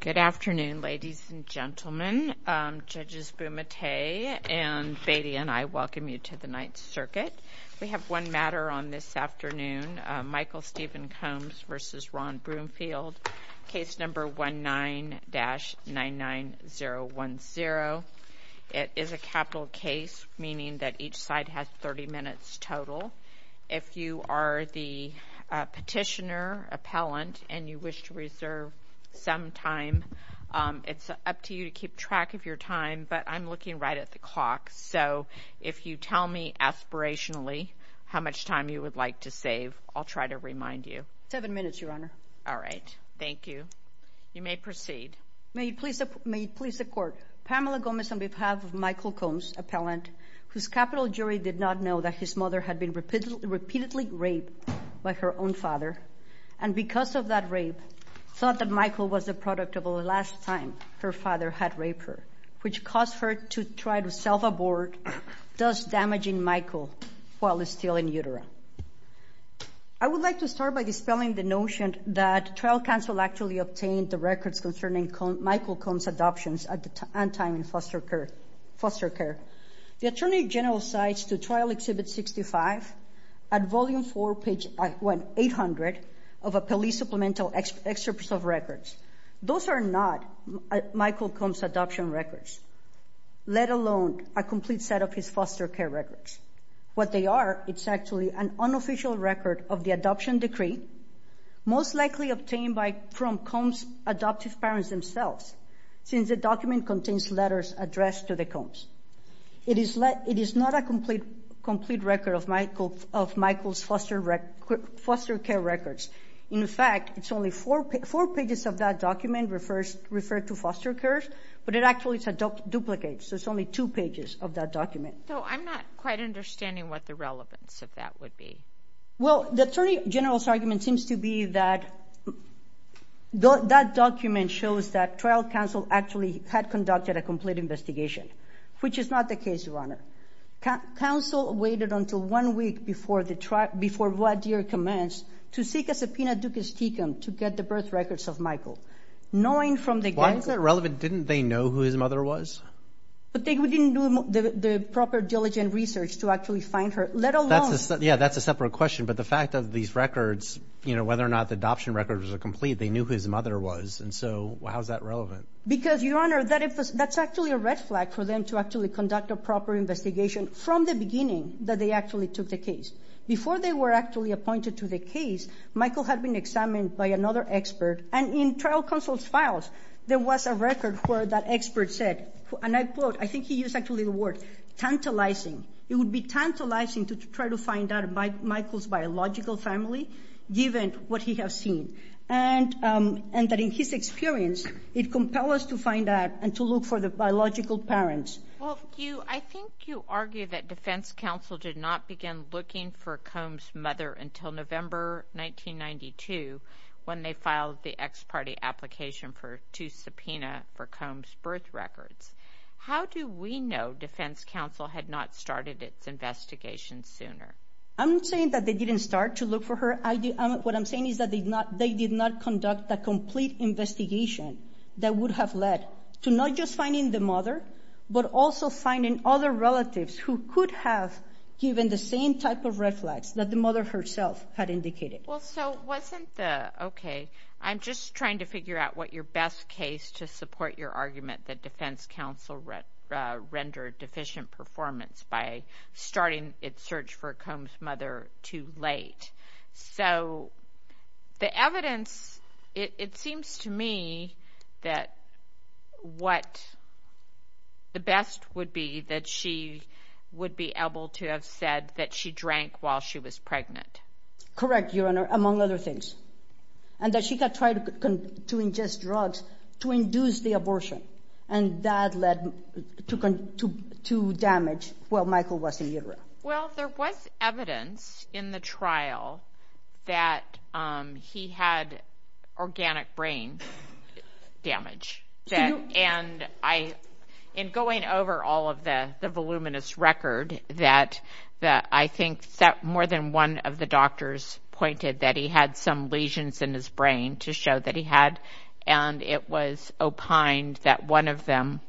Good afternoon, ladies and gentlemen, Judges Bumate and Beatty and I welcome you to the Ninth Circuit. We have one matter on this afternoon, Michael Stephen Combs v. Ron Broomfield, case number 19-99010. It is a capital case, meaning that each side has 30 minutes total. If you are the petitioner, appellant, and you wish to reserve some time, it's up to you to keep track of your time, but I'm looking right at the clock, so if you tell me aspirationally how much time you would like to save, I'll try to remind you. Seven minutes, Your Honor. All right. Thank you. You may proceed. May it please the Court, Pamela Gomez on behalf of Michael Combs, appellant, whose capital jury did not know that his mother had been repeatedly raped by her own father, and because of that rape, thought that Michael was the product of the last time her father had raped her, which caused her to try to self-abort, thus damaging Michael while still in utero. I would like to start by dispelling the notion that trial counsel actually obtained the records concerning Michael Combs' adoptions at the time in foster care. The Attorney General cites to Trial Exhibit 65 at Volume 4, page 800 of a police supplemental excerpt of records. Those are not Michael Combs' adoption records, let alone a complete set of his foster care records. What they are, it's actually an unofficial record of the adoption decree, most likely obtained from Combs' adoptive parents themselves, since the document contains letters addressed to the Combs. It is not a complete record of Michael's foster care records. In fact, it's only four pages of that document referred to foster care, but it actually is a duplicate, so it's only two pages of that document. So I'm not quite understanding what the relevance of that would be. Well, the Attorney General's argument seems to be that that document shows that trial counsel actually had conducted a complete investigation, which is not the case, Your Counsel waited until one week before the trial, before voir dire commence to seek a subpoena ducis tecum to get the birth records of Michael, knowing from the... Why is that relevant? Didn't they know who his mother was? But they didn't do the proper diligent research to actually find her, let alone... Yeah, that's a separate question, but the fact of these records, you know, whether or not the adoption records were complete, they knew who his mother was, and so how is that relevant? Because, Your Honor, that's actually a red flag for them to actually conduct a proper investigation from the beginning that they actually took the case. Before they were actually appointed to the case, Michael had been examined by another expert, and in trial counsel's files, there was a record where that expert said, and I quote, I think he used actually the word, tantalizing. It would be tantalizing to try to find out Michael's biological family, given what he has seen, and that in his experience, it compels us to find out and to look for the biological parents. Well, I think you argue that defense counsel did not begin looking for Combs' mother until November 1992, when they filed the ex parte application to subpoena for Combs' birth records. How do we know defense counsel had not started its investigation sooner? I'm not saying that they didn't start to look for her. What I'm saying is that they did not conduct a complete investigation that would have led to not just finding the mother, but also finding other relatives who could have given the same type of red flags that the mother herself had indicated. Well, so wasn't the, okay, I'm just trying to figure out what your best case to support your argument that defense counsel rendered deficient performance by starting its search for Combs' mother too late. So the evidence, it seems to me that what the best would be that she would be able to have said that she drank while she was pregnant. Correct, Your Honor, among other things. And that she had tried to ingest drugs to induce the abortion, and that led to damage while Michael was in utero. Well, there was evidence in the trial that he had organic brain damage, and I, in going over all of the voluminous record, that I think that more than one of the doctors pointed that he had some lesions in his brain to show that he had, and it was opined that one of them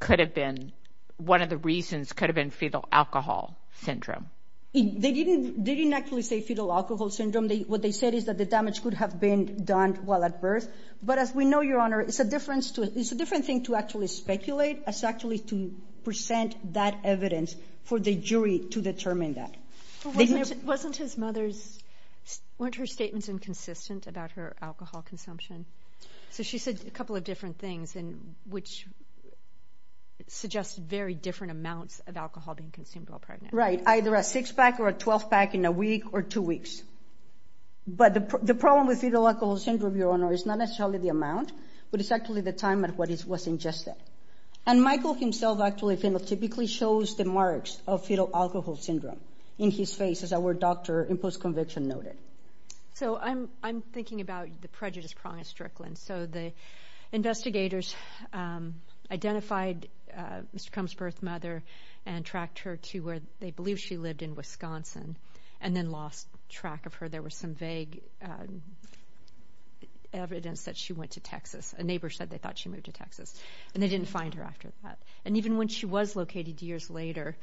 could have been, one of the reasons could have been fetal alcohol syndrome. They didn't actually say fetal alcohol syndrome. What they said is that the damage could have been done while at birth. But as we know, Your Honor, it's a different thing to actually speculate as actually to present that evidence for the jury to determine that. Wasn't his mother's, weren't her statements inconsistent about her alcohol consumption? So she said a couple of different things, which suggested very different amounts of alcohol being consumed while pregnant. Right, either a six pack or a 12 pack in a week or two weeks. But the problem with fetal alcohol syndrome, Your Honor, is not necessarily the amount, but it's actually the time at which it was ingested. And Michael himself actually phenotypically shows the marks of fetal alcohol syndrome in his face, as our doctor in post-conviction noted. So I'm thinking about the prejudice prong of Strickland. So the investigators identified Mr. Crumb's birth mother and tracked her to where they believe she lived in Wisconsin, and then lost track of her. There was some vague evidence that she went to Texas. A neighbor said they thought she moved to Texas, and they didn't find her after that. And even when she was located years later,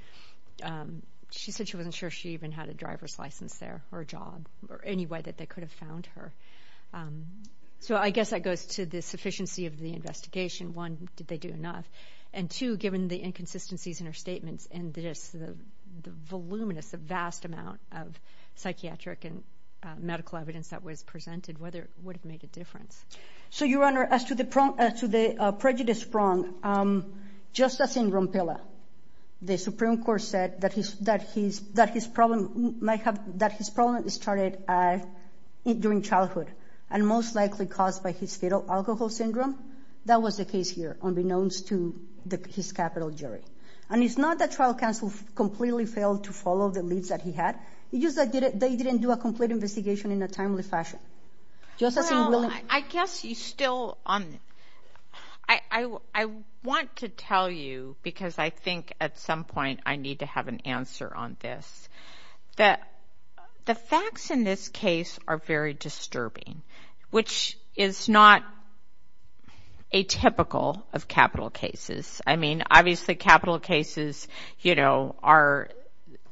she said she wasn't sure she even had a driver's license there, or a job, or any way that they could have found her. So I guess that goes to the sufficiency of the investigation. One, did they do enough? And two, given the inconsistencies in her statements and the voluminous, the vast amount of psychiatric and medical evidence that was presented, would it have made a difference? So Your Honor, as to the prejudice prong, just as in Rompela, the Supreme Court said that his problem might have, that his problem started during childhood, and most likely caused by his fetal alcohol syndrome. That was the case here, unbeknownst to his capital jury. And it's not that trial counsel completely failed to follow the leads that he had. It's just that they didn't do a complete investigation in a timely fashion. Just as in Willingham. Well, I guess you still, I want to tell you, because I think at some point I need to have an answer on this, that the facts in this case are very disturbing, which is not atypical of capital cases. I mean, obviously capital cases, you know, are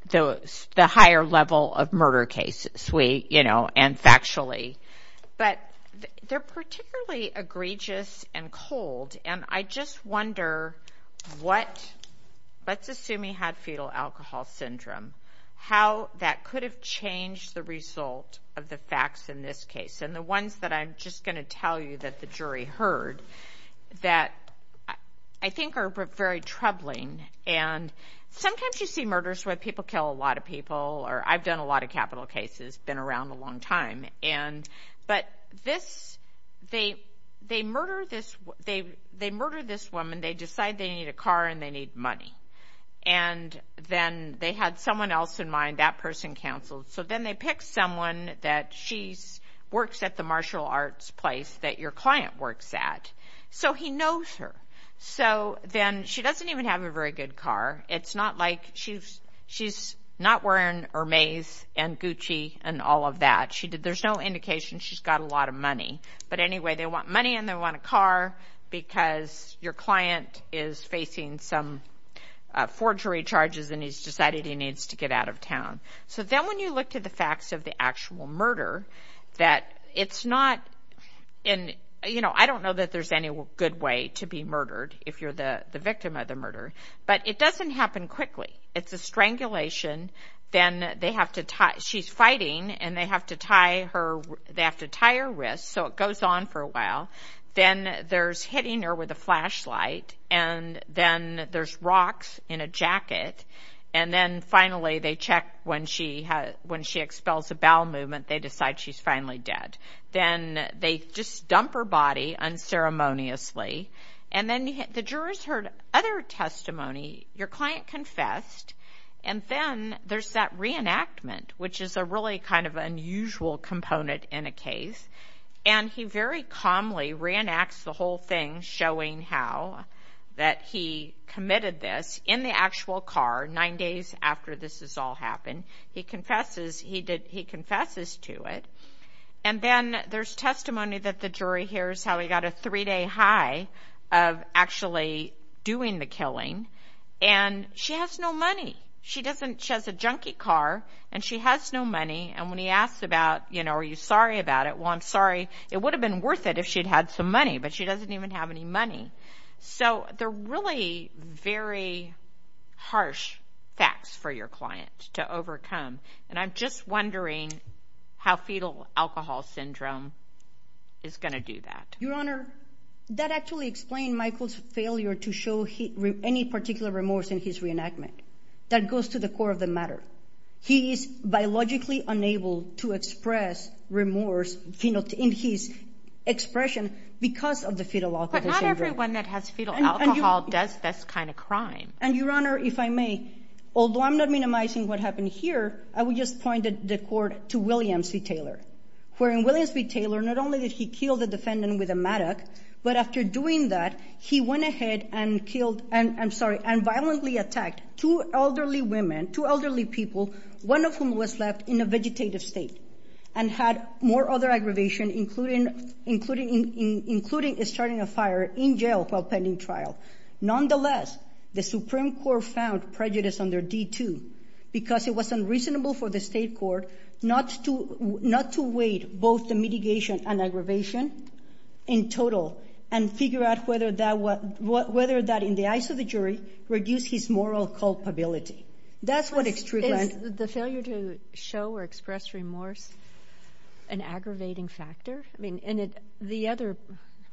the higher level of murder cases, you know, and factually. But they're particularly egregious and cold, and I just wonder what, let's assume he had fetal alcohol syndrome, how that could have changed the result of the facts in this case. And the ones that I'm just going to tell you that the jury heard, that I think are very troubling, and sometimes you see murders where people kill a lot of people, or I've done a lot of capital cases, been around a long time, and, but this, they murder this woman, they decide they need a car and they need money. And then they had someone else in mind, that person counseled, so then they pick someone that she works at the martial arts place that your client works at. So he knows her. So then, she doesn't even have a very good car. It's not like, she's not wearing Hermes and Gucci and all of that. There's no indication she's got a lot of money. But anyway, they want money and they want a car because your client is facing some forgery charges and he's decided he needs to get out of town. So then when you look to the facts of the actual murder, that it's not, and, you know, I don't know that there's any good way to be murdered if you're the victim of the murder, but it doesn't happen quickly. It's a strangulation, then they have to tie, she's fighting, and they have to tie her, they have to tie her wrist, so it goes on for a while. Then there's hitting her with a flashlight, and then there's rocks in a jacket, and then finally they check when she expels a bowel movement, they decide she's finally dead. Then they just dump her body unceremoniously, and then the jurors heard other testimony. Your client confessed, and then there's that reenactment, which is a really kind of unusual component in a case, and he very calmly reenacts the whole thing, showing how, that he committed this in the actual car, nine days after this has all happened. He confesses, he confesses to it, and then there's testimony that the jury hears how he got a three-day high of actually doing the killing, and she has no money. She doesn't, she has a junkie car, and she has no money, and when he asks about, you know, are you sorry about it, well, I'm sorry, it would have been worth it if she'd had some money, but she doesn't even have any money. So they're really very harsh facts for your client to overcome, and I'm just wondering how fetal alcohol syndrome is going to do that. Your Honor, that actually explained Michael's failure to show any particular remorse in his reenactment. That goes to the core of the matter. He is biologically unable to express remorse, you know, in his expression, because of the fetal alcohol syndrome. But not everyone that has fetal alcohol does this kind of crime. And Your Honor, if I may, although I'm not minimizing what happened here, I would just point the court to William C. Taylor, wherein William C. Taylor, not only did he kill the defendant with a mattock, but after doing that, he went ahead and killed, I'm sorry, and violently attacked two elderly women, two elderly people, one of whom was left in a vegetative state, and had more other aggravation, including starting a fire in jail while pending trial. Nonetheless, the Supreme Court found prejudice under D-2, because it was unreasonable for the state court not to weigh both the mitigation and aggravation in total, and figure out whether that, in the eyes of the jury, reduced his moral culpability. That's what extremely— Is the failure to show or express remorse an aggravating factor? I mean, and the other—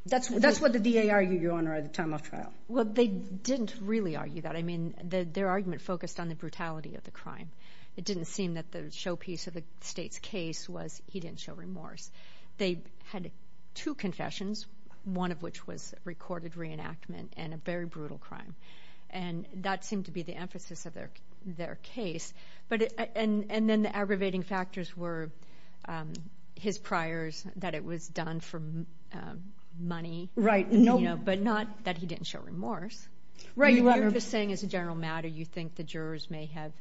That's what the DA argued, Your Honor, at the time of trial. Well, they didn't really argue that. I mean, their argument focused on the brutality of the crime. It didn't seem that the showpiece of the state's case was he didn't show remorse. They had two confessions, one of which was recorded reenactment, and a very brutal crime. And that seemed to be the emphasis of their case. And then the aggravating factors were his priors, that it was done for money, but not that he didn't show remorse. Right, Your Honor— So you're saying, as a general matter, you think the jurors may have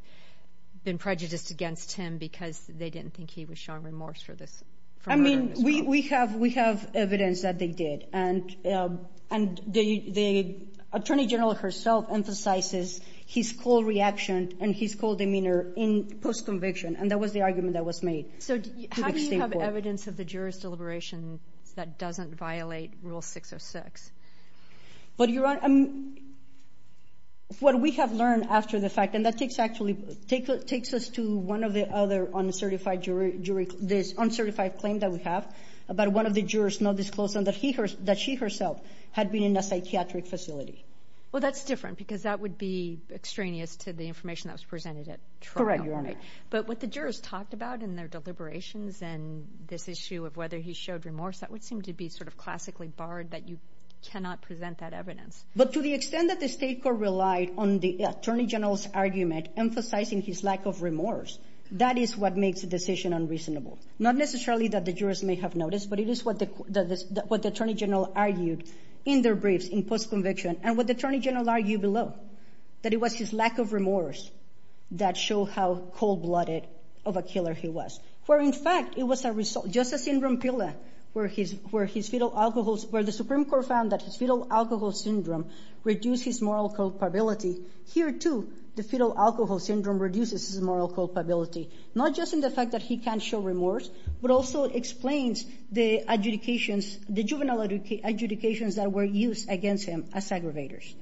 been prejudiced against him because they didn't think he was showing remorse for this— I mean, we have evidence that they did. And the attorney general herself emphasizes his cold reaction and his cold demeanor in post-conviction. And that was the argument that was made. So how do you have evidence of the jurors' deliberations that doesn't violate Rule 606? But, Your Honor, what we have learned after the fact—and that takes us to one of the other uncertified claims that we have about one of the jurors not disclosing that she herself had been in a psychiatric facility. Well, that's different, because that would be extraneous to the information that was presented at trial. Correct, Your Honor. But what the jurors talked about in their deliberations and this issue of whether he showed remorse, that would seem to be sort of classically barred, that you cannot present that evidence. But to the extent that the State Court relied on the attorney general's argument emphasizing his lack of remorse, that is what makes the decision unreasonable. Not necessarily that the jurors may have noticed, but it is what the attorney general argued in their briefs in post-conviction and what the attorney general argued below, that it was his lack of remorse that showed how cold-blooded of a killer he was. Where, in fact, it was just a syndrome pilla where the Supreme Court found that his fetal alcohol syndrome reduced his moral culpability, here, too, the fetal alcohol syndrome reduces his moral culpability, not just in the fact that he can't show remorse, but also explains the adjudications, the juvenile adjudications that were used against him as aggravators,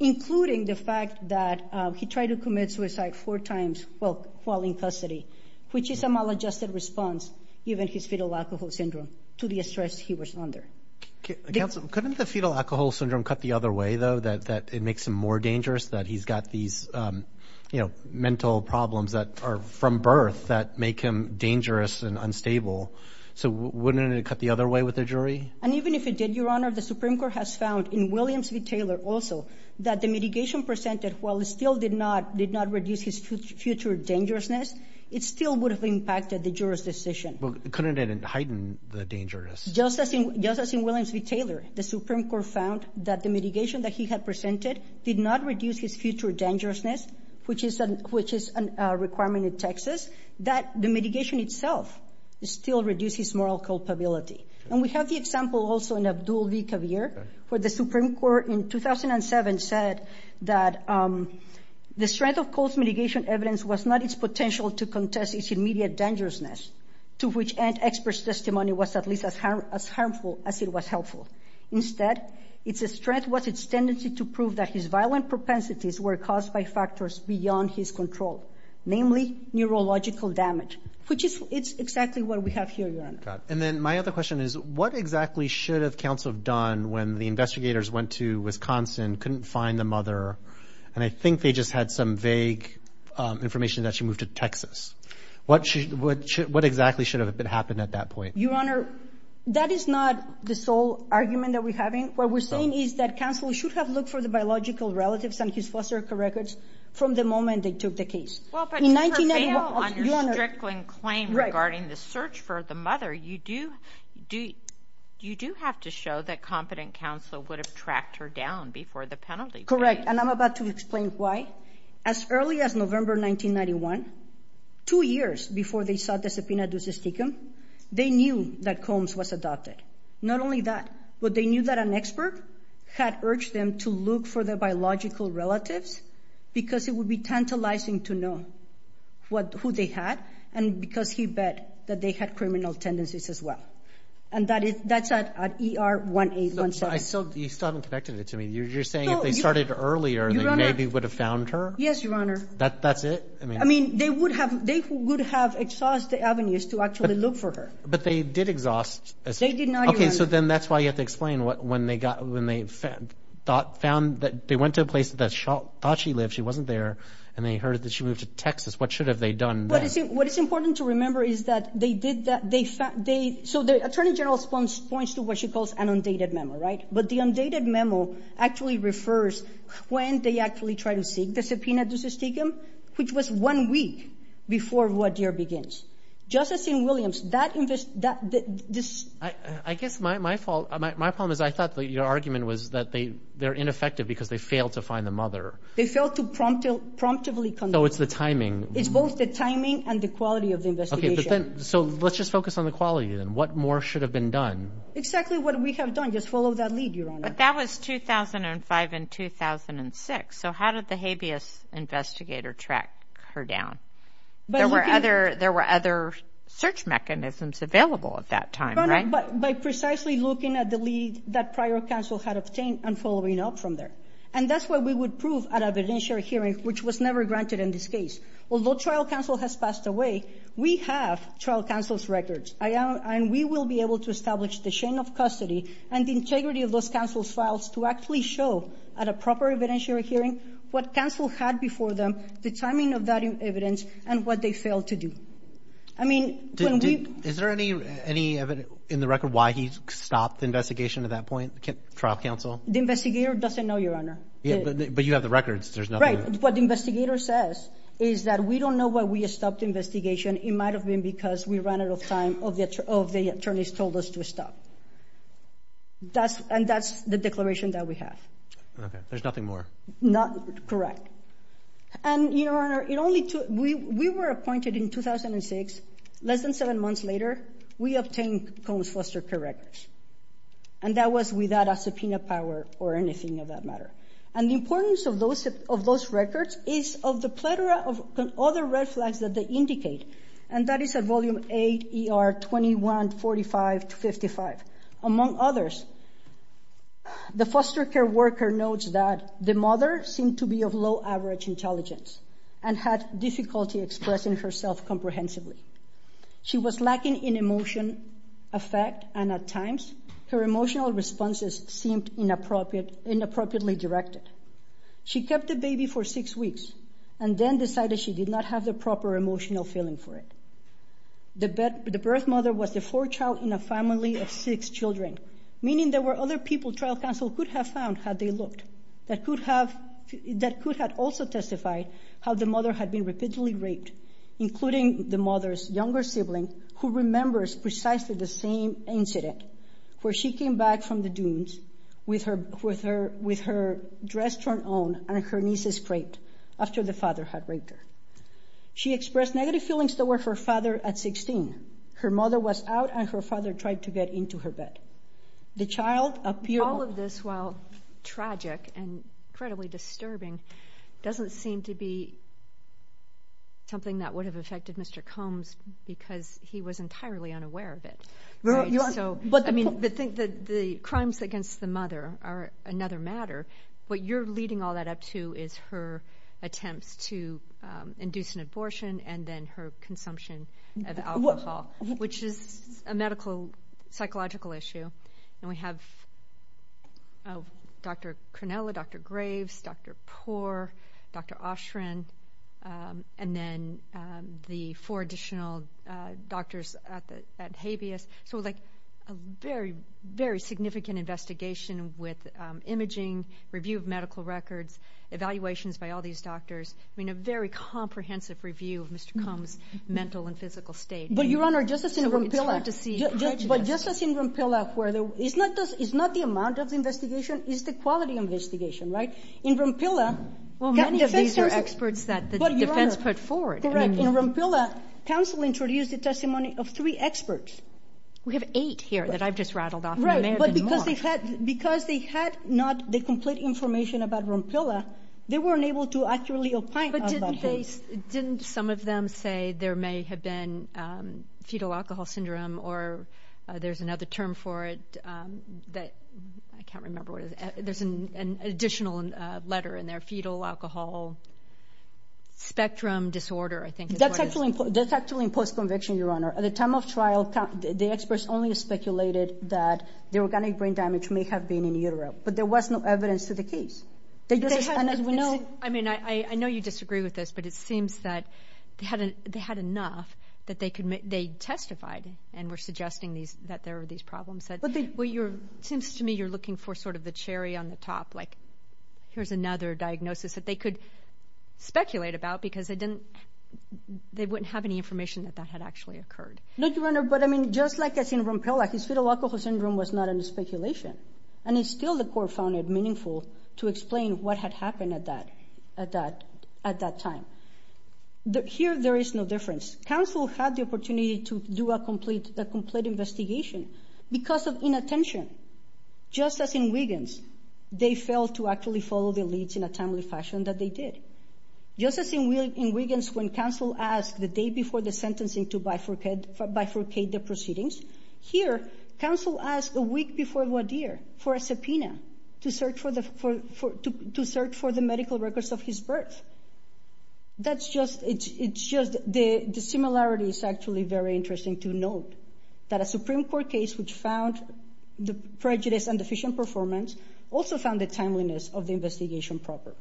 including the fact that he tried to commit suicide four times while in custody, which is a maladjusted response, even his fetal alcohol syndrome, to the stress he was under. Counsel, couldn't the fetal alcohol syndrome cut the other way, though, that it makes him more dangerous, that he's got these, you know, mental problems that are from birth that make him dangerous and unstable? So wouldn't it cut the other way with the jury? And even if it did, Your Honor, the Supreme Court has found in Williams v. Taylor, also, that the mitigation presented, while it still did not reduce his future dangerousness, it still would have impacted the juror's decision. Well, couldn't it heighten the dangerousness? Just as in Williams v. Taylor, the Supreme Court found that the mitigation that he had presented did not reduce his future dangerousness, which is a requirement in Texas, that the mitigation itself still reduced his moral culpability. And we have the example, also, in Abdul v. Kabir, where the Supreme Court in 2007 said that the strength of Cole's mitigation evidence was not its potential to contest its immediate dangerousness, to which ant experts' testimony was at least as harmful as it was helpful. Instead, its strength was its tendency to prove that his violent propensities were caused by factors beyond his control, namely neurological damage, which is exactly what we have here, And then my other question is, what exactly should have counsel done when the investigators went to Wisconsin, couldn't find the mother, and I think they just had some vague information that she moved to Texas? What exactly should have happened at that point? Your Honor, that is not the sole argument that we're having. What we're saying is that counsel should have looked for the biological relatives and his foster care records from the moment they took the case. Well, but to prevail on your strickling claim regarding the search for the mother, you do have to show that competent counsel would have tracked her down before the penalty. Correct. And I'm about to explain why. As early as November 1991, two years before they sought the subpoena justicium, they knew that Combs was adopted. Not only that, but they knew that an expert had urged them to look for the biological relatives because it would be tantalizing to know who they had and because he bet that they had criminal tendencies as well. And that's at ER 1817. You still haven't connected it to me. You're saying if they started earlier, they maybe would have found her? Yes, Your Honor. That's it? I mean, they would have exhaust the avenues to actually look for her. But they did exhaust. They did not, Your Honor. Okay. So then that's why you have to explain when they went to a place that thought she lived, she wasn't there, and they heard that she moved to Texas. What should have they done then? What is important to remember is that they did that. So the attorney general points to what she calls an undated memo, right? But the undated memo actually refers when they actually tried to seek the subpoena justicium, which was one week before Ruadier begins. Justice Williams, that invest— I guess my problem is I thought that your argument was that they're ineffective because they failed to find the mother. They failed to promptly— No, it's the timing. It's both the timing and the quality of the investigation. So let's just focus on the quality then. What more should have been done? Exactly what we have done. Just follow that lead, Your Honor. But that was 2005 and 2006. So how did the habeas investigator track her down? There were other search mechanisms available at that time, right? By precisely looking at the lead that prior counsel had obtained and following up from there. And that's why we would prove at a evidentiary hearing, which was never granted in this case, although trial counsel has passed away, we have trial counsel's records, and we will be able to establish the chain of custody and the integrity of those counsel's files to actually show at a proper evidentiary hearing what counsel had before them, the timing of that evidence, and what they failed to do. I mean, when we— Is there any evidence in the record why he stopped the investigation at that point, trial counsel? The investigator doesn't know, Your Honor. But you have the records. There's nothing— What the investigator says is that we don't know why we stopped the investigation. It might have been because we ran out of time, or the attorneys told us to stop. And that's the declaration that we have. Okay. There's nothing more. Correct. And, Your Honor, it only took—we were appointed in 2006. Less than seven months later, we obtained Combs-Foster correctness. And that was without a subpoena power or anything of that matter. And the importance of those records is of the plethora of other red flags that they indicate, and that is at Volume 8, ER 2145-55. Among others, the foster care worker notes that the mother seemed to be of low-average intelligence and had difficulty expressing herself comprehensively. She was lacking in emotion, affect, and at times, her emotional responses seemed inappropriately directed. She kept the baby for six weeks and then decided she did not have the proper emotional feeling for it. The birth mother was the fourth child in a family of six children, meaning there were other people trial counsel could have found had they looked that could have also testified how the mother had been repeatedly raped, including the mother's younger sibling, who remembers precisely the same incident where she came back from the dunes with her dress torn on and her knees scraped after the father had raped her. She expressed negative feelings toward her father at 16. Her mother was out and her father tried to get into her bed. The child appeared— All of this, while tragic and incredibly disturbing, doesn't seem to be something that would have affected Mr. Combs because he was entirely unaware of it. The crimes against the mother are another matter. What you're leading all that up to is her attempts to induce an abortion and then her consumption of alcohol, which is a medical, psychological issue. We have Dr. Cronella, Dr. Graves, Dr. Poore, Dr. Oshren, and then the four additional doctors at Habeas. So, like, a very, very significant investigation with imaging, review of medical records, evaluations by all these doctors. I mean, a very comprehensive review of Mr. Combs' mental and physical state. But, Your Honor, just as in Rompilla, where it's not the amount of the investigation, it's the quality of the investigation, right? In Rompilla— Well, many of these are experts that the defense put forward. In Rompilla, counsel introduced a testimony of three experts. We have eight here that I've just rattled off. There may have been more. Right, but because they had not the complete information about Rompilla, they weren't able to accurately opine about this. Didn't they—didn't some of them say there may have been fetal alcohol syndrome, or there's another term for it that—I can't remember what it is—there's an additional letter in there. Fetal alcohol spectrum disorder, I think is what it is. That's actually in post-conviction, Your Honor. At the time of trial, the experts only speculated that the organic brain damage may have been in utero, but there was no evidence to the case. And as we know— I mean, I know you disagree with this, but it seems that they had enough that they testified and were suggesting that there were these problems, but it seems to me you're looking for sort of the cherry on the top, like here's another diagnosis that they could speculate about because they didn't—they wouldn't have any information that that had actually occurred. No, Your Honor, but I mean, just like as in Rompilla, his fetal alcohol syndrome was not under speculation, and it's still the court found it meaningful to explain what had happened at that time. Here there is no difference. Counsel had the opportunity to do a complete investigation. Because of inattention, just as in Wiggins, they failed to actually follow the leads in a timely fashion that they did. Just as in Wiggins, when counsel asked the day before the sentencing to bifurcate the proceedings, here counsel asked a week before Wadir for a subpoena to search for the medical records of his birth. That's just—it's just—the similarity is actually very interesting to note that a Supreme Court case which found the prejudice and deficient performance also found the timeliness of the investigation proper.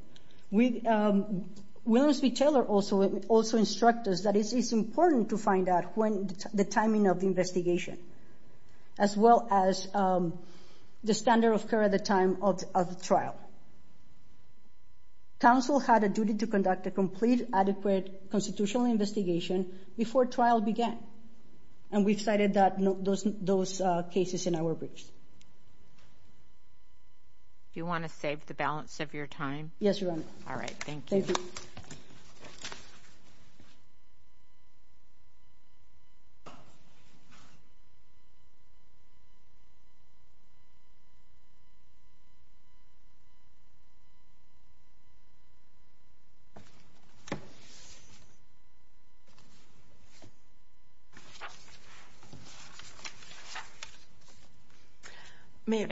We—Williams v. Taylor also instruct us that it's important to find out when the timing of the investigation, as well as the standard of care at the time of the trial. Counsel had a duty to conduct a complete, adequate, constitutional investigation before trial began, and we've cited that—those cases in our briefs. You want to save the balance of your time? Yes, Your Honor. All right. Thank you. May it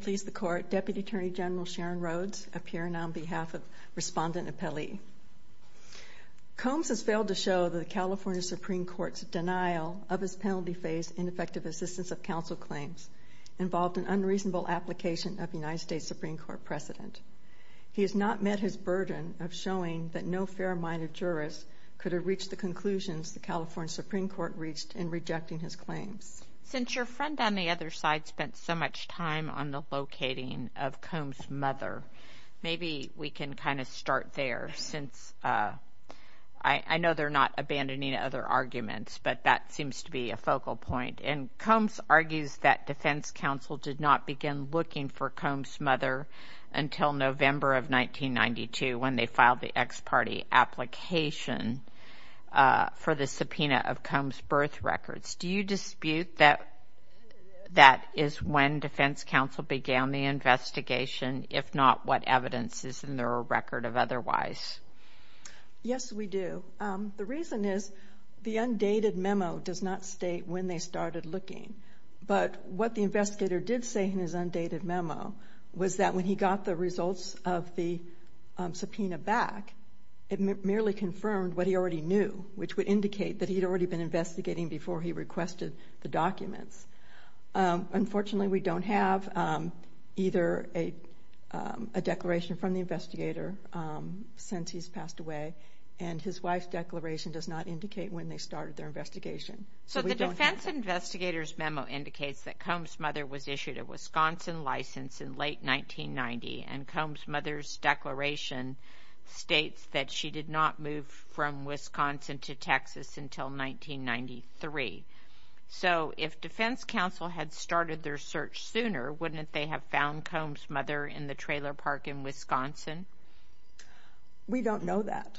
please the Court, Deputy Attorney General Sharon Rhodes, appearing on behalf of Respondent Appellee. Combs has failed to show that the California Supreme Court's denial of his penalty-phase ineffective assistance of counsel claims involved an unreasonable application of United States Supreme Court precedent. He has not met his burden of showing that no fair-minded jurist could have reached the conclusions the California Supreme Court reached in rejecting his claims. Since your friend on the other side spent so much time on the locating of Combs' mother, maybe we can kind of start there, since I know they're not abandoning other arguments, but that seems to be a focal point. And Combs argues that defense counsel did not begin looking for Combs' mother until November of 1992, when they filed the ex parte application for the subpoena of Combs' birth records. Do you dispute that that is when defense counsel began the investigation, if not what evidence is in their record of otherwise? Yes, we do. The reason is the undated memo does not state when they started looking. But what the investigator did say in his undated memo was that when he got the results of the subpoena back, it merely confirmed what he already knew, which would indicate that he'd already been investigating before he requested the documents. Unfortunately, we don't have either a declaration from the investigator since he's passed away, and his wife's declaration does not indicate when they started their investigation. So the defense investigator's memo indicates that Combs' mother was issued a Wisconsin license in late 1990, and Combs' mother's declaration states that she did not move from Wisconsin to Texas until 1993. So if defense counsel had started their search sooner, wouldn't they have found Combs' mother in the trailer park in Wisconsin? We don't know that.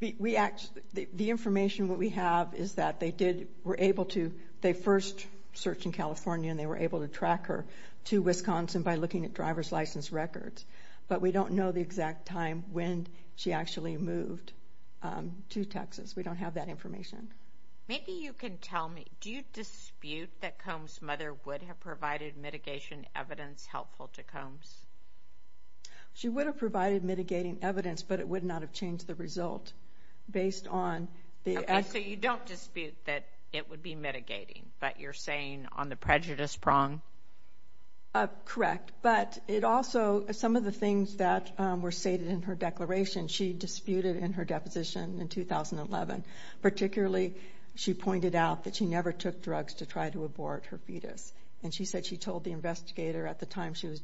The information that we have is that they did, were able to, they first searched in California and they were able to track her to Wisconsin by looking at driver's license records. But we don't know the exact time when she actually moved to Texas. We don't have that information. Maybe you can tell me, do you dispute that Combs' mother would have provided mitigation evidence helpful to Combs? She would have provided mitigating evidence, but it would not have changed the result based on the... Okay, so you don't dispute that it would be mitigating, but you're saying on the prejudice prong? Correct, but it also, some of the things that were stated in her declaration, she disputed in her deposition in 2011, particularly she pointed out that she never took drugs to try to abort her fetus. And she said she told the investigator at the time she was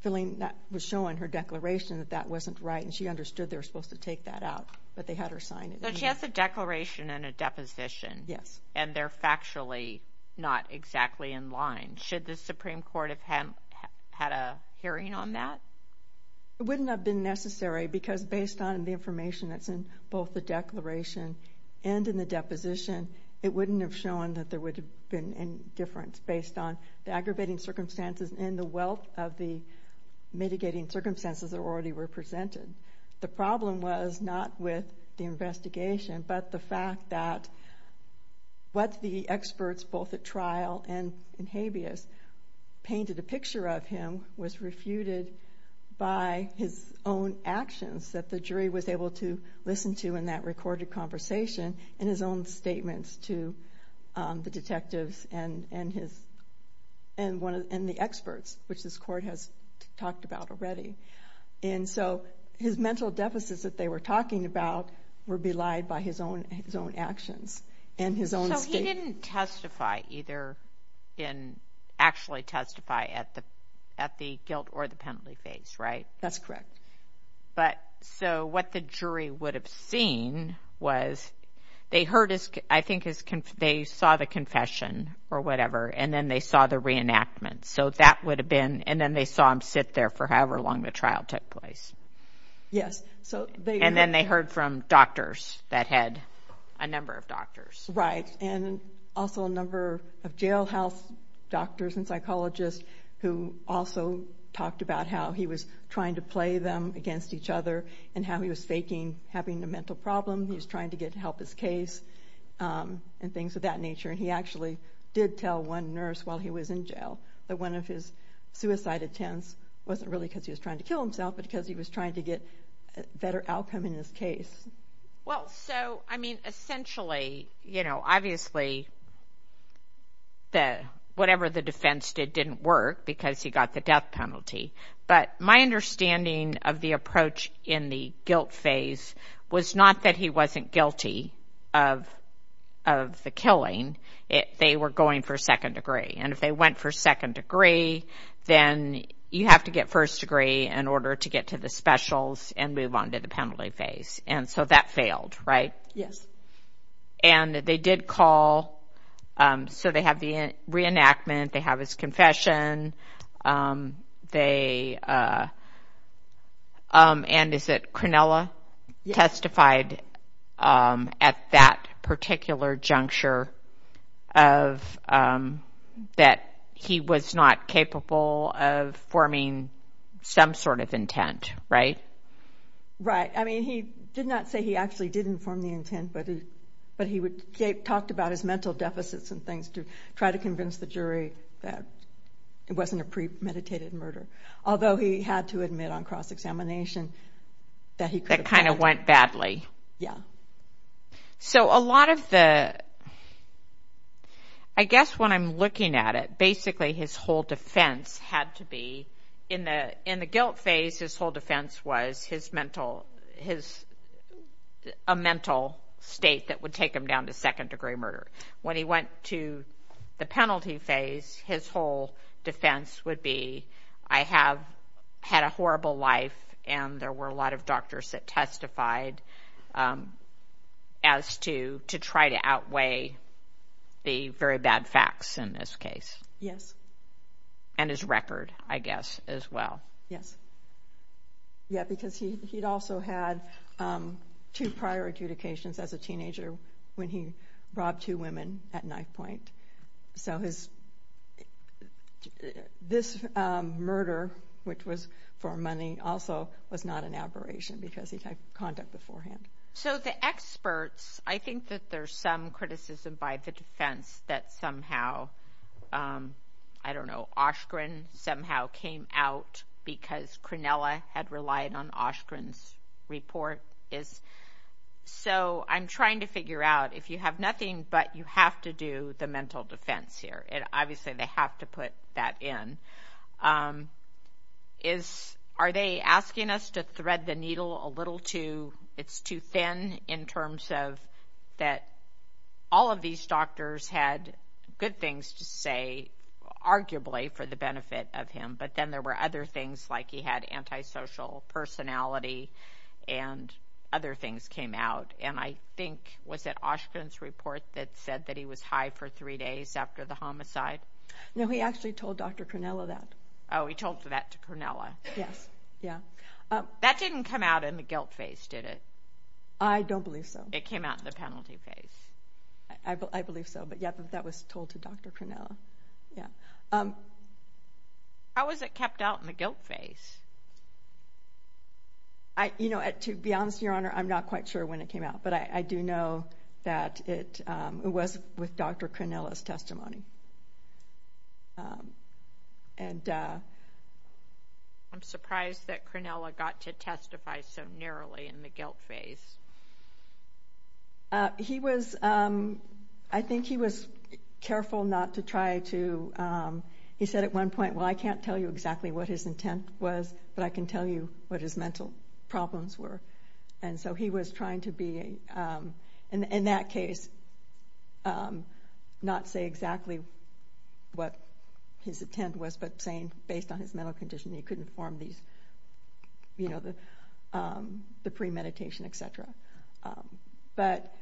filling, was showing her declaration that that wasn't right, and she understood they were supposed to take that out. But they had her sign it. So she has a declaration and a deposition, and they're factually not exactly in line. Should the Supreme Court have had a hearing on that? It wouldn't have been necessary, because based on the information that's in both the declaration and in the deposition, it wouldn't have shown that there would have been any difference based on the aggravating circumstances and the wealth of the mitigating circumstances that already were presented. The problem was not with the investigation, but the fact that what the experts both at Habeas painted a picture of him was refuted by his own actions that the jury was able to listen to in that recorded conversation and his own statements to the detectives and the experts, which this court has talked about already. And so his mental deficits that they were talking about were belied by his own actions and his own statements. He didn't testify either in, actually testify at the guilt or the penalty phase, right? That's correct. But so what the jury would have seen was they heard his, I think they saw the confession or whatever, and then they saw the reenactment. So that would have been, and then they saw him sit there for however long the trial took place. Yes. And then they heard from doctors that had, a number of doctors. Right. And also a number of jailhouse doctors and psychologists who also talked about how he was trying to play them against each other and how he was faking having a mental problem. He was trying to get help with his case and things of that nature. He actually did tell one nurse while he was in jail that one of his suicide attempts wasn't really because he was trying to kill himself, but because he was trying to get a better outcome in his case. Well, so, I mean, essentially, you know, obviously the, whatever the defense did didn't work because he got the death penalty. But my understanding of the approach in the guilt phase was not that he wasn't guilty of the killing. They were going for second degree. And if they went for second degree, then you have to get first degree in order to get to the specials and move on to the penalty phase. And so that failed, right? Yes. And they did call, so they have the reenactment, they have his confession, they, and is it Cronella testified at that particular juncture of, that he was not capable of forming some sort of intent, right? Right. I mean, he did not say he actually did inform the intent, but he talked about his mental deficits and things to try to convince the jury that it wasn't a premeditated murder. Although he had to admit on cross-examination that he could have done it. That kind of went badly. Yeah. So, a lot of the, I guess when I'm looking at it, basically his whole defense had to be, in the guilt phase, his whole defense was his mental, his, a mental state that would take him down to second degree murder. When he went to the penalty phase, his whole defense would be, I have had a horrible life and there were a lot of doctors that testified as to, to try to outweigh the very bad facts in this case. Yes. And his record, I guess, as well. Yeah, because he, he'd also had two prior adjudications as a teenager when he robbed two women at knife point. So his, this murder, which was for money, also was not an aberration because he'd had conduct beforehand. So the experts, I think that there's some criticism by the defense that somehow, I don't know, Oshkren somehow came out because Cronella had relied on Oshkren's report. So I'm trying to figure out, if you have nothing but you have to do the mental defense here, and obviously they have to put that in, is, are they asking us to thread the needle a little too, it's too thin in terms of that all of these doctors had good things to say, arguably for the benefit of him, but then there were other things like he had antisocial personality and other things came out. And I think, was it Oshkren's report that said that he was high for three days after the homicide? No, he actually told Dr. Cronella that. Oh, he told that to Cronella. Yes. Yeah. That didn't come out in the guilt phase, did it? I don't believe so. It came out in the penalty phase? I believe so, but yeah, that was told to Dr. Cronella, yeah. How was it kept out in the guilt phase? You know, to be honest, Your Honor, I'm not quite sure when it came out, but I do know that it was with Dr. Cronella's testimony. I'm surprised that Cronella got to testify so narrowly in the guilt phase. He was, I think he was careful not to try to, he said at one point, well, I can't tell you exactly what his intent was, but I can tell you what his mental problems were. And so he was trying to be, in that case, not say exactly what his intent was, but saying based on his mental condition, he couldn't form these, you know, the premeditation, etc. But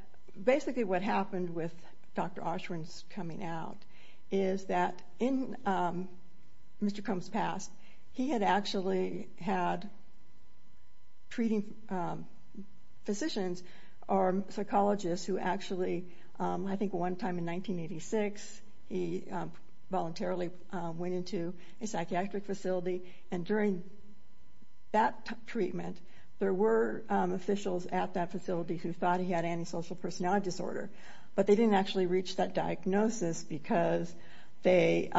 basically what happened with Dr. Oshwin's coming out is that in Mr. Cronella's past, he had actually had treating physicians or psychologists who actually, I think one time in 1986, he voluntarily went into a psychiatric facility, and during that treatment, there were officials at that facility who thought he had antisocial personality disorder, but they didn't actually reach that diagnosis because they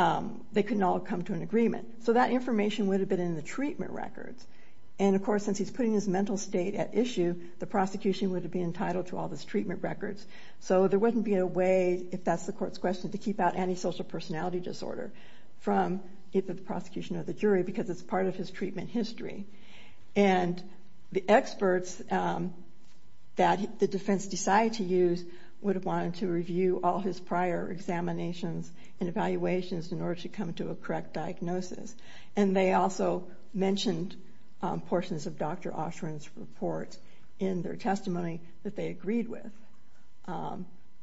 could not come to an agreement. So that information would have been in the treatment records. And of course, since he's putting his mental state at issue, the prosecution would have been entitled to all his treatment records. So there wouldn't be a way, if that's the court's question, to keep out antisocial personality disorder from either the prosecution or the jury because it's part of his treatment history. And the experts that the defense decided to use would have wanted to review all his prior examinations and evaluations in order to come to a correct diagnosis. And they also mentioned portions of Dr. Oshwin's report in their testimony that they agreed with.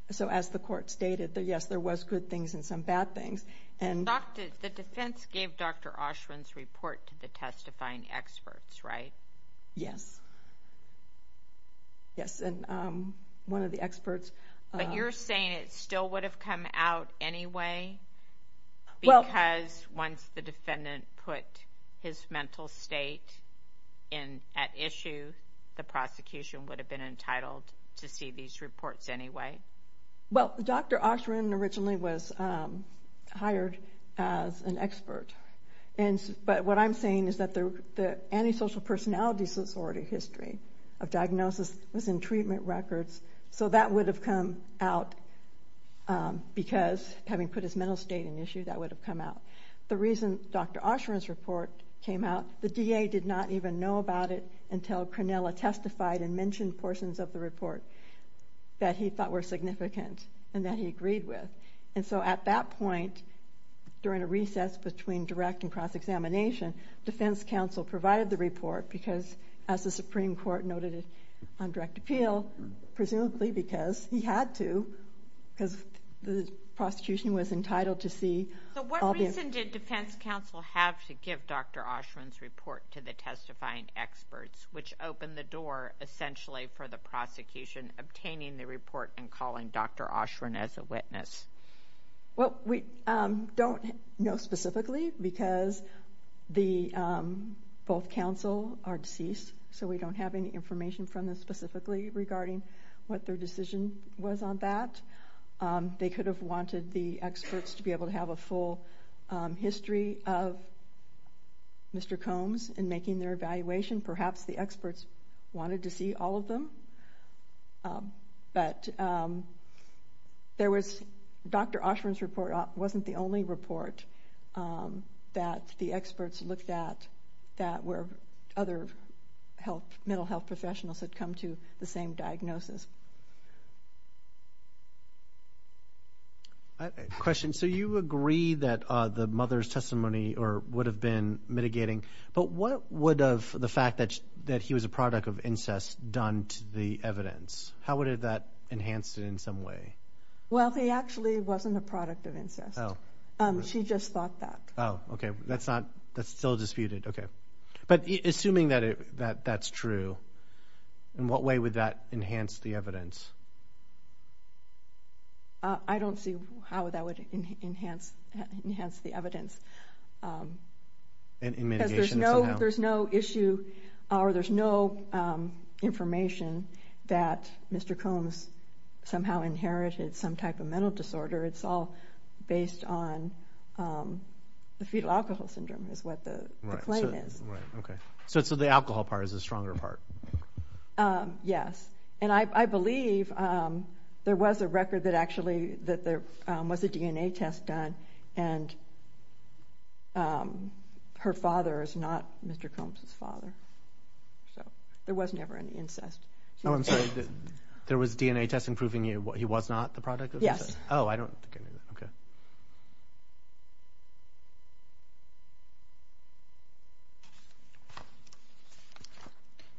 So as the court stated, yes, there was good things and some bad things. And... The defense gave Dr. Oshwin's report to the testifying experts, right? Yes. Yes. And one of the experts... But you're saying it still would have come out anyway because once the defendant put his mental state at issue, the prosecution would have been entitled to see these reports anyway? Well, Dr. Oshwin originally was hired as an expert. But what I'm saying is that the antisocial personality disorder history of diagnosis was in treatment records. So that would have come out because having put his mental state at issue, that would have come out. The reason Dr. Oshwin's report came out, the DA did not even know about it until Cronella testified and mentioned portions of the report that he thought were significant and that he agreed with. And so at that point, during a recess between direct and cross-examination, defense counsel provided the report because, as the Supreme Court noted on direct appeal, presumably because he had to, because the prosecution was entitled to see... So what reason did defense counsel have to give Dr. Oshwin's report to the testifying experts, which opened the door essentially for the prosecution obtaining the report and calling Dr. Oshwin as a witness? Well, we don't know specifically because both counsel are deceased, so we don't have any information from them specifically regarding what their decision was on that. They could have wanted the experts to be able to have a full history of Mr. Combs in making their evaluation. Perhaps the experts wanted to see all of them. But there was...Dr. Oshwin's report wasn't the only report that the experts looked at that were other health, mental health professionals that had come to the same diagnosis. Question. So you agree that the mother's testimony would have been mitigating, but what would have the fact that he was a product of incest done to the evidence? How would that enhance it in some way? Well, he actually wasn't a product of incest. She just thought that. Oh, okay. That's not... That's still disputed. Okay. But assuming that that's true, in what way would that enhance the evidence? I don't see how that would enhance the evidence. In mitigation somehow? There's no issue or there's no information that Mr. Combs somehow inherited some type of mental disorder. It's all based on the fetal alcohol syndrome is what the claim is. Right. Okay. So the alcohol part is the stronger part? Yes. And I believe there was a record that actually that there was a DNA test done and her father is not Mr. Combs' father. So there was never any incest. Oh, I'm sorry. There was DNA testing proving he was not the product of incest? Yes. Oh, I don't... Okay.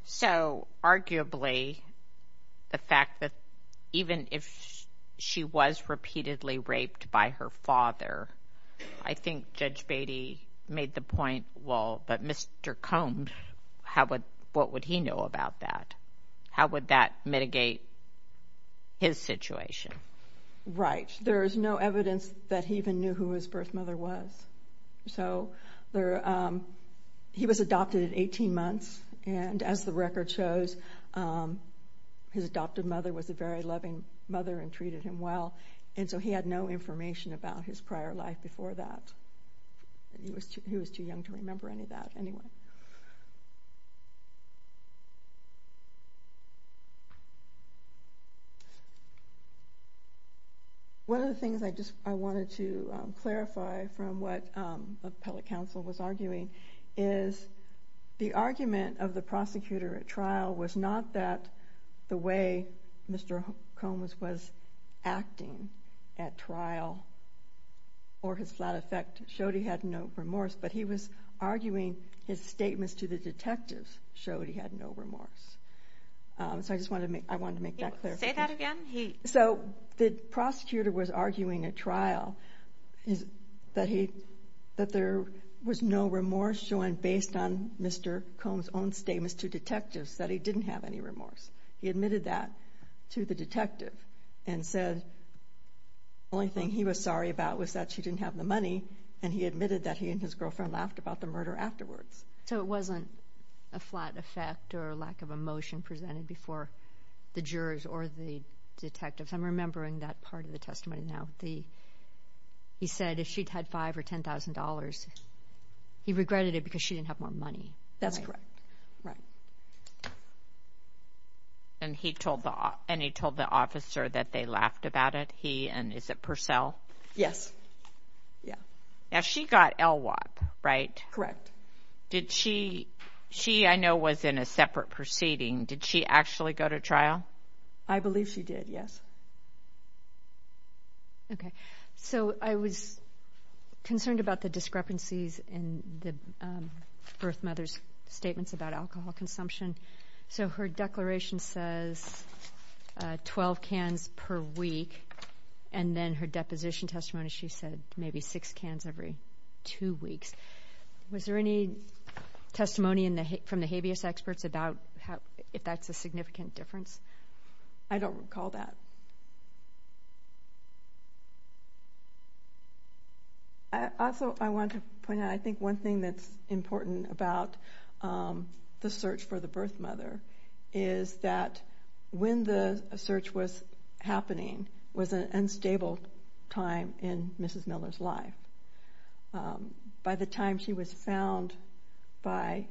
So arguably, the fact that even if she was repeatedly raped by her father, I think Judge Beatty made the point, well, but Mr. Combs, how would... What would he know about that? How would that mitigate his situation? Right. There's no evidence that he even knew who his birth mother was. So he was adopted at 18 months and as the record shows, his adoptive mother was a very loving mother and treated him well and so he had no information about his prior life before that. He was too young to remember any of that anyway. One of the things I just wanted to clarify from what the appellate counsel was arguing is the argument of the prosecutor at trial was not that the way Mr. Combs was acting at trial or his flat effect showed he had no remorse, but he was arguing his statements to the detectives showed he had no remorse. So I just wanted to make that clarification. Say that again? He... So the prosecutor was arguing at trial that there was no remorse shown based on Mr. Combs' own statements to detectives, that he didn't have any remorse. He admitted that to the detective and said the only thing he was sorry about was that she didn't have the money and he admitted that he and his girlfriend laughed about the murder afterwards. So it wasn't a flat effect or lack of emotion presented before the jurors or the detectives. I'm remembering that part of the testimony now. He said if she'd had $5,000 or $10,000, he regretted it because she didn't have more money. That's correct. Right. And he told the officer that they laughed about it, he and is it Purcell? Yes. Yeah. Now she got LWOP, right? Did she... She, I know, was in a separate proceeding. Did she actually go to trial? I believe she did, yes. Okay. So I was concerned about the discrepancies in the birth mother's statements about alcohol consumption. So her declaration says 12 cans per week and then her deposition testimony, she said maybe six cans every two weeks. Was there any testimony from the habeas experts about if that's a significant difference? I don't recall that. Also I want to point out, I think one thing that's important about the search for the birth mother is that when the search was happening, it was an unstable time in Mrs. Miller's life. By the time she was found by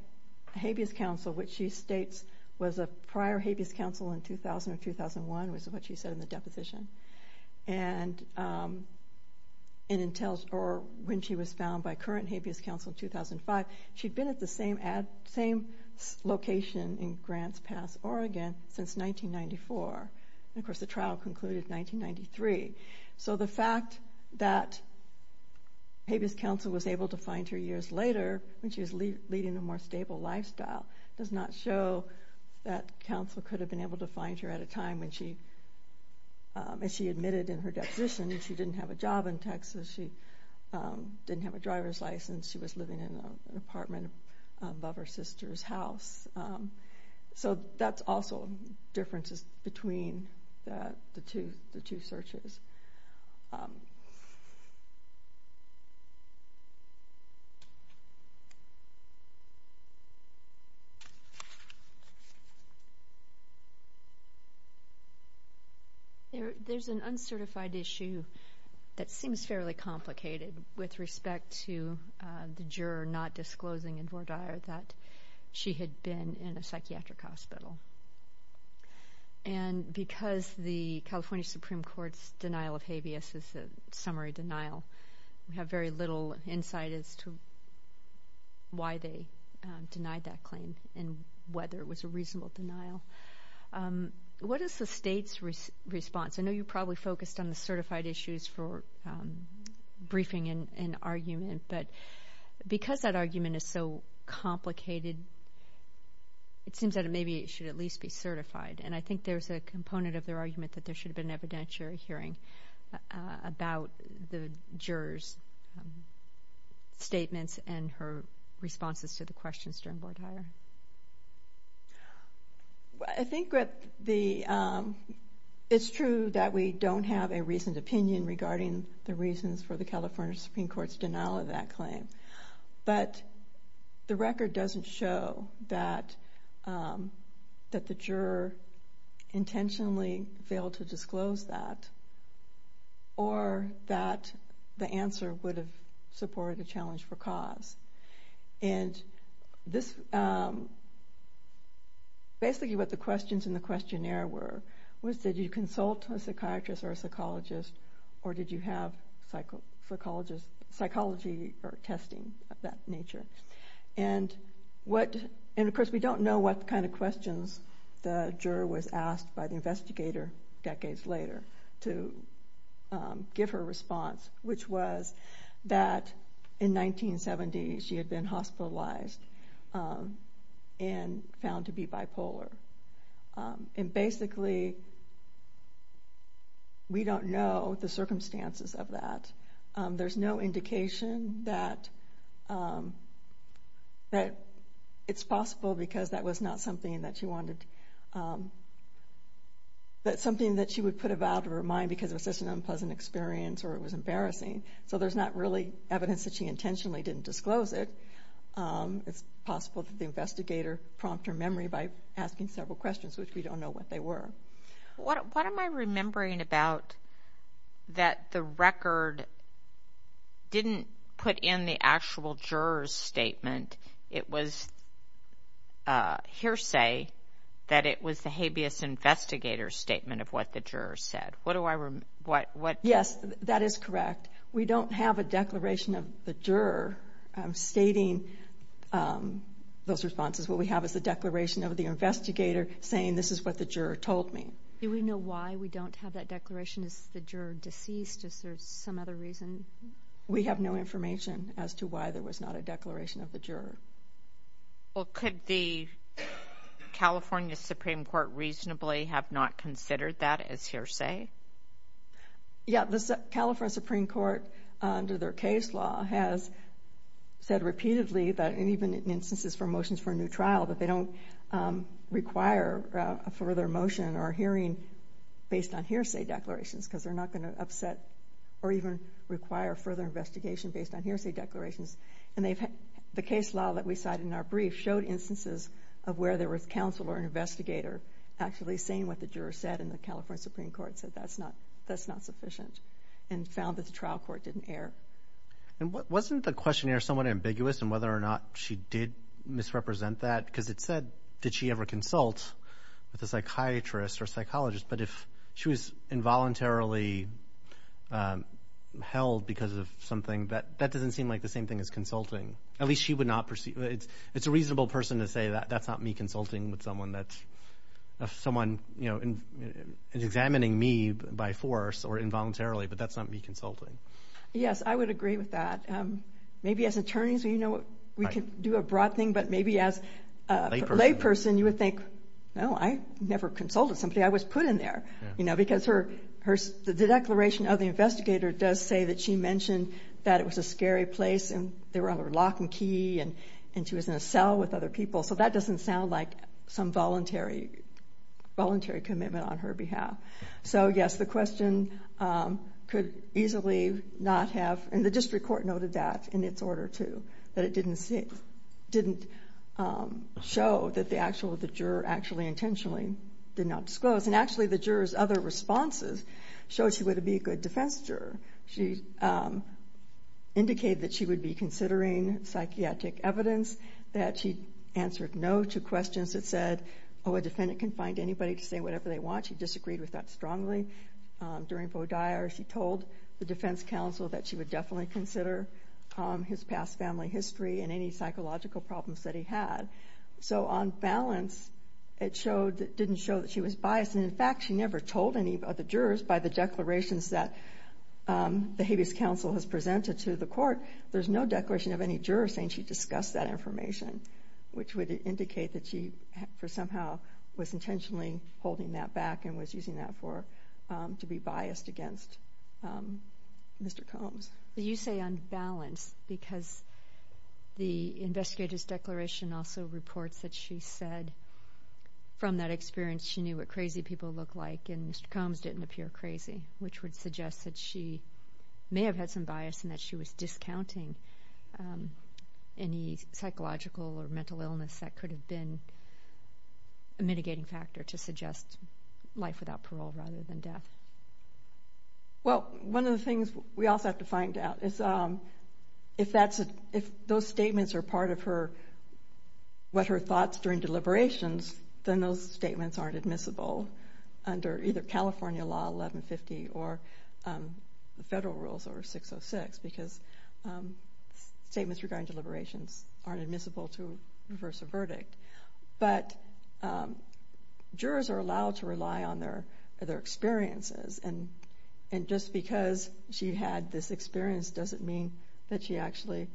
habeas counsel, which she states was a prior habeas counsel in 2000 or 2001, which is what she said in the deposition, and when she was found by current habeas counsel in 2005, she'd been at the same location in Grants Pass, Oregon since 1994. And of course the trial concluded 1993. So the fact that habeas counsel was able to find her years later when she was leading a more stable lifestyle does not show that counsel could have been able to find her at a time when she, as she admitted in her deposition, she didn't have a job in Texas, she didn't have a driver's license, she was living in an apartment above her sister's house. So that's also differences between the two searches. There's an uncertified issue that seems fairly complicated with respect to the juror not disclosing in Vordaer that she had been in a psychiatric hospital. And because the California Supreme Court's denial of habeas is a summary denial, we have very little insight as to why they denied that claim and whether it was a reasonable denial. What is the state's response? I know you probably focused on the certified issues for briefing and argument, but because that argument is so complicated, it seems that maybe it should at least be certified. And I think there's a component of their argument that there should have been an evidentiary hearing about the juror's statements and her responses to the questions during Vordaer. I think that the, it's true that we don't have a reasoned opinion regarding the reasons for the California Supreme Court's denial of that claim, but the record doesn't show that the juror intentionally failed to disclose that or that the answer would have supported the challenge for cause. And this, basically what the questions in the questionnaire were, was did you consult a psychiatrist or a psychologist, or did you have psychology or testing of that nature? And of course we don't know what kind of questions the juror was asked by the investigator decades later to give her response, which was that in 1970 she had been hospitalized and found to be bipolar. And basically we don't know the circumstances of that. There's no indication that it's possible because that was not something that she wanted, that something that she would put about her mind because it was just an unpleasant experience or it was embarrassing. So there's not really evidence that she intentionally didn't disclose it. It's possible that the investigator prompted her memory by asking several questions, which we don't know what they were. What am I remembering about that the record didn't put in the actual juror's statement? It was hearsay that it was the habeas investigator's statement of what the juror said. What do I remember? Yes, that is correct. We don't have a declaration of the juror stating those responses. What we have is the declaration of the investigator saying this is what the juror told me. Do we know why we don't have that declaration? Is the juror deceased? Is there some other reason? We have no information as to why there was not a declaration of the juror. Well, could the California Supreme Court reasonably have not considered that as hearsay? Yes, the California Supreme Court, under their case law, has said repeatedly and even in instances for motions for a new trial that they don't require a further motion or hearing based on hearsay declarations because they're not going to upset or even require further investigation based on hearsay declarations. The case law that we cited in our brief showed instances of where there was counsel or an investigator actually saying what the juror said and the California Supreme Court said that's not sufficient and found that the trial court didn't err. And wasn't the questionnaire somewhat ambiguous in whether or not she did misrepresent that? Because it said, did she ever consult with a psychiatrist or psychologist? But if she was involuntarily held because of something, that doesn't seem like the same thing as consulting. At least she would not perceive it. It's a reasonable person to say that's not me consulting with someone that's someone examining me by force or involuntarily, but that's not me consulting. Yes, I would agree with that. Maybe as attorneys we can do a broad thing, but maybe as a lay person you would think, no, I never consulted somebody, I was put in there. Because the declaration of the investigator does say that she mentioned that it was a scary place and they were on her lock and key and she was in a cell with other people. So that doesn't sound like some voluntary commitment on her behalf. So yes, the question could easily not have, and the district court noted that in its order too, that it didn't show that the juror actually intentionally did not disclose. And actually the juror's other responses showed she would be a good defense juror. She indicated that she would be considering psychiatric evidence, that she answered no to questions that said, oh, a defendant can find anybody to say whatever they want. She disagreed with that strongly. During Bodire she told the defense counsel that she would definitely consider his past family history and any psychological problems that he had. So on balance, it didn't show that she was biased, and in fact she never told any of the jurors by the declarations that the habeas counsel has presented to the court. There's no declaration of any juror saying she discussed that information, which would indicate that she somehow was intentionally holding that back and was using that to be biased against Mr. Combs. You say on balance because the investigator's declaration also reports that she said from that experience she knew what crazy people looked like and Mr. Combs didn't appear crazy, which would suggest that she may have had some bias and that she was discounting any psychological or mental illness that could have been a mitigating factor to suggest life without parole rather than death. One of the things we also have to find out is if those statements are part of what her thoughts during deliberations, then those statements aren't admissible under either California Law 1150 or the federal rules over 606 because statements regarding deliberations aren't admissible to reverse a verdict. But jurors are allowed to rely on their experiences, and just because she had this experience doesn't mean that she actually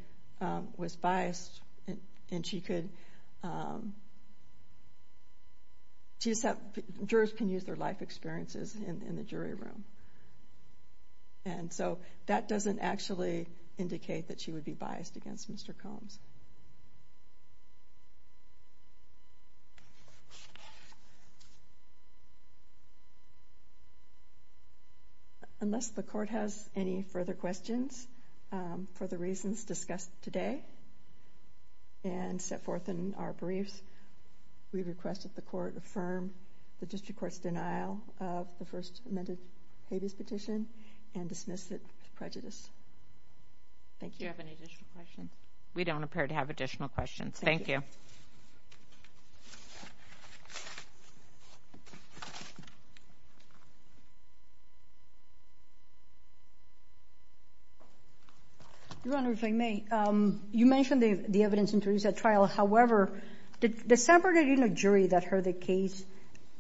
was biased and jurors can use their life experiences in the jury room. And so that doesn't actually indicate that she would be biased against Mr. Combs. Unless the court has any further questions for the reasons discussed today and set forth in our briefs, we request that the court affirm the district court's denial of the first amended habeas petition and dismiss it as prejudice. Thank you. Do you have any additional questions? We don't have any additional questions. We're prepared to have additional questions. Thank you. Your Honor, if I may, you mentioned the evidence introduced at trial. However, the San Bernardino jury that heard the case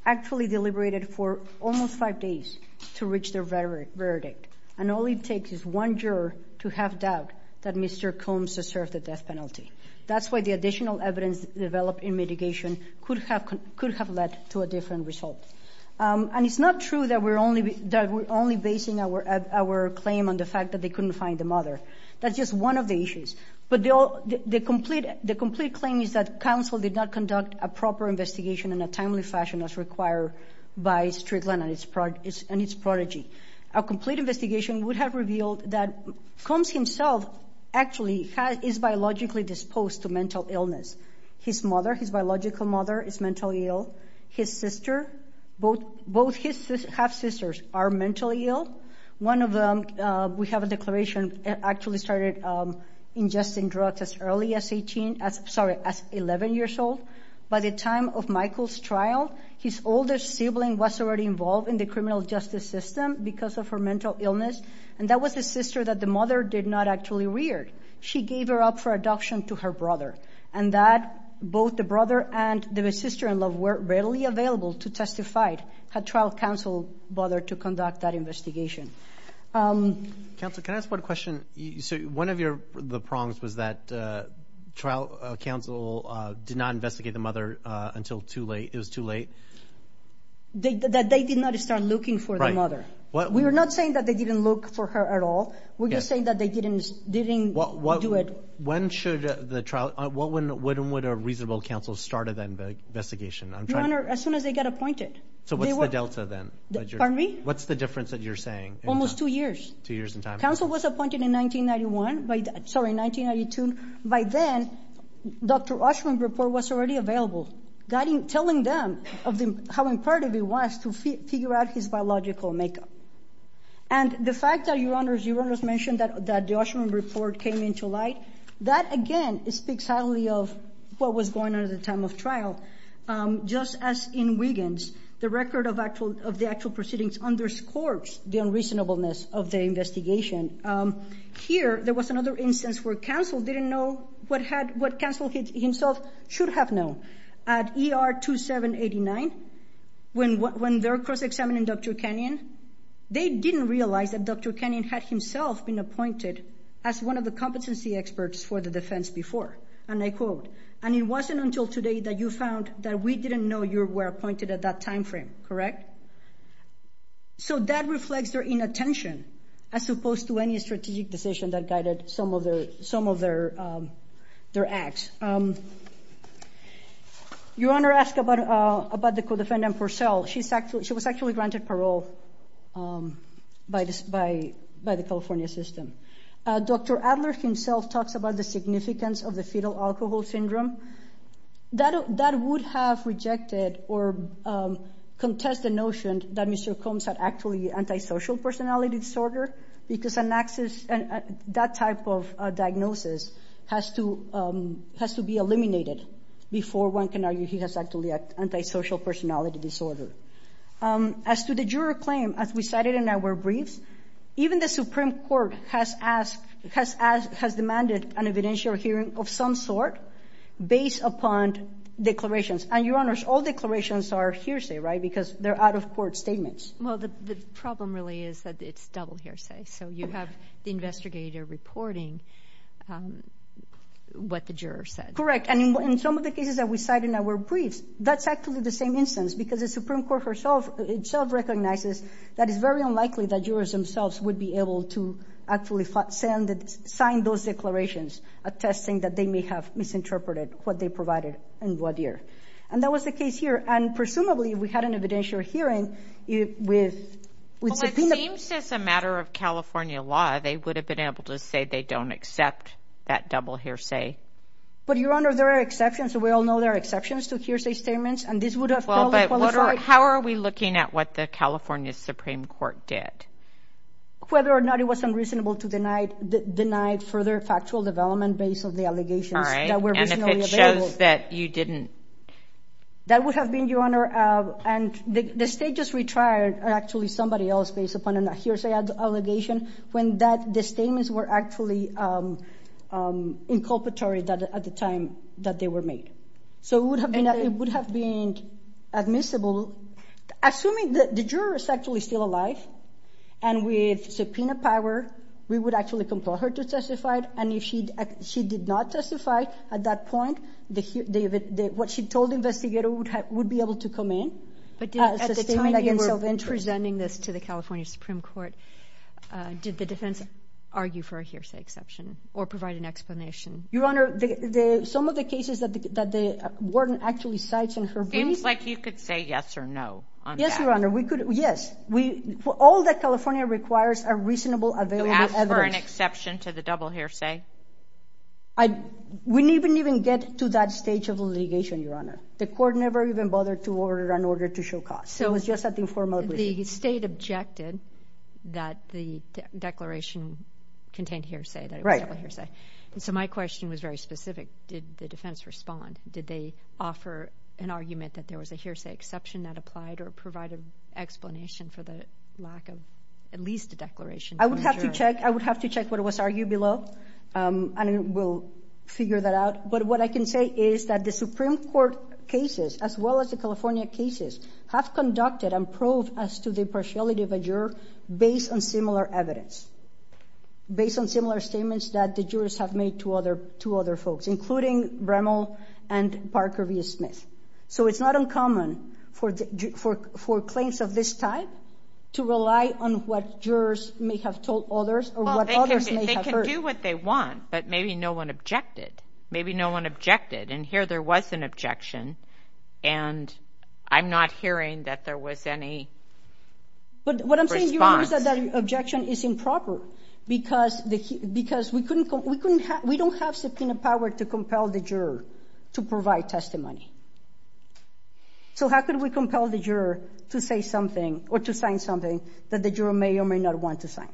actually deliberated for almost five days to reach their verdict, and all it takes is one juror to have doubt that Mr. Combs has served the death penalty. That's why the additional evidence developed in mitigation could have led to a different result. And it's not true that we're only basing our claim on the fact that they couldn't find the mother. That's just one of the issues. But the complete claim is that counsel did not conduct a proper investigation in a timely fashion as required by Strickland and its prodigy. A complete investigation would have revealed that Combs himself actually is biologically disposed to mental illness. His mother, his biological mother, is mentally ill. His sister, both his half-sisters are mentally ill. One of them, we have a declaration, actually started ingesting drugs as early as 18, sorry, as 11 years old. By the time of Michael's trial, his oldest sibling was already involved in the criminal justice system because of her mental illness, and that was the sister that the mother did not actually rear. She gave her up for adoption to her brother, and that both the brother and the sister-in-law were readily available to testify had trial counsel bothered to conduct that investigation. Counsel, can I ask one question? One of the prongs was that trial counsel did not investigate the mother until too late. It was too late? That they did not start looking for the mother. We are not saying that they didn't look for her at all. We're just saying that they didn't do it. When should the trial, when would a reasonable counsel start that investigation? Your Honor, as soon as they got appointed. So what's the delta then? Pardon me? What's the difference that you're saying? Almost two years. Two years in time. Counsel was appointed in 1991, sorry, 1992. By then, Dr. Oshman's report was already available, telling them how important it was to figure out his biological makeup. And the fact that, Your Honor, you just mentioned that the Oshman report came into light, that again speaks highly of what was going on at the time of trial. Just as in Wiggins, the record of the actual proceedings underscores the unreasonableness of the investigation. Here, there was another instance where counsel didn't know what counsel himself should have known. At ER 2789, when they're cross-examining Dr. Kenyon, they didn't realize that Dr. Kenyon had himself been appointed as one of the competency experts for the defense before. And I quote, and it wasn't until today that you found that we didn't know you were appointed at that time frame, correct? So that reflects their inattention as opposed to any strategic decision that guided some of their acts. Your Honor asked about the co-defendant Purcell. She was actually granted parole by the California system. Dr. Adler himself talks about the significance of the fetal alcohol syndrome. That would have rejected or contest the notion that Mr. Combs had actually antisocial personality disorder, because that type of diagnosis has to be eliminated before one can argue he has actually antisocial personality disorder. As to the juror claim, as we cited in our briefs, even the Supreme Court has asked, has demanded an evidential hearing of some sort based upon declarations. And, Your Honors, all declarations are hearsay, right, because they're out-of-court statements. Well, the problem really is that it's double hearsay. So you have the investigator reporting what the juror said. Correct. And in some of the cases that we cite in our briefs, that's actually the same instance, because the Supreme Court itself recognizes that it's very unlikely that jurors themselves would be able to actually sign those declarations, attesting that they may have misinterpreted what they provided in voir dire. And that was the case here. And presumably, if we had an evidential hearing with subpoena— Well, it seems, as a matter of California law, they would have been able to say they don't accept that double hearsay. But, Your Honor, there are exceptions. We all know there are exceptions to hearsay statements. And this would have probably qualified— Well, but how are we looking at what the California Supreme Court did? Whether or not it was unreasonable to deny further factual development based on the allegations that were originally available. And if it shows that you didn't— That would have been, Your Honor, and the state just retried actually somebody else based upon a hearsay allegation when the statements were actually inculpatory at the time that they were made. So it would have been admissible, assuming that the juror is actually still alive, and with subpoena power, we would actually compel her to testify. And if she did not testify at that point, what she told the investigator would be able to come in. But at the time you were presenting this to the California Supreme Court, did the defense argue for a hearsay exception or provide an explanation? Your Honor, some of the cases that the warden actually cites in her briefs— It seems like you could say yes or no on that. Yes, Your Honor, we could. Yes. All that California requires are reasonable, available evidence. To ask for an exception to the double hearsay? We didn't even get to that stage of litigation, Your Honor. The court never even bothered to order an order to show cause. It was just an informal decision. The state objected that the declaration contained hearsay. Right. So my question was very specific. Did the defense respond? Did they offer an argument that there was a hearsay exception that applied or provide an explanation for the lack of at least a declaration? I would have to check what was argued below, and we'll figure that out. But what I can say is that the Supreme Court cases, as well as the California cases, have conducted and proved as to the impartiality of a juror based on similar evidence, based on similar statements that the jurors have made to other folks, including Bremel and Parker v. Smith. So it's not uncommon for claims of this type to rely on what jurors may have told others or what others may have heard. They can do what they want, but maybe no one objected. Maybe no one objected, and here there was an objection, and I'm not hearing that there was any response. But what I'm saying is that the objection is improper because we don't have subpoena power to compel the juror to provide testimony. So how could we compel the juror to say something or to sign something that the juror may or may not want to sign?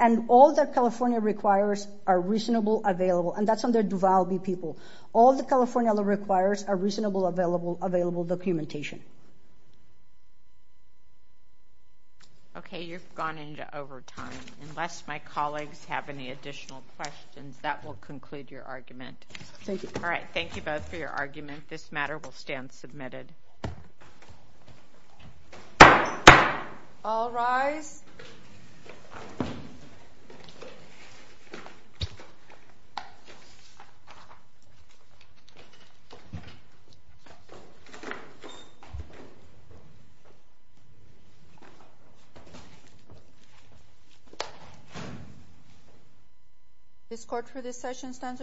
And all that California requires are reasonable, available, and that's under Duvalby people. All that California requires are reasonable, available documentation. Okay, you've gone into overtime. Unless my colleagues have any additional questions, that will conclude your argument. Thank you. All right, thank you both for your argument. This matter will stand submitted. All rise. This court for this session stands adjourned.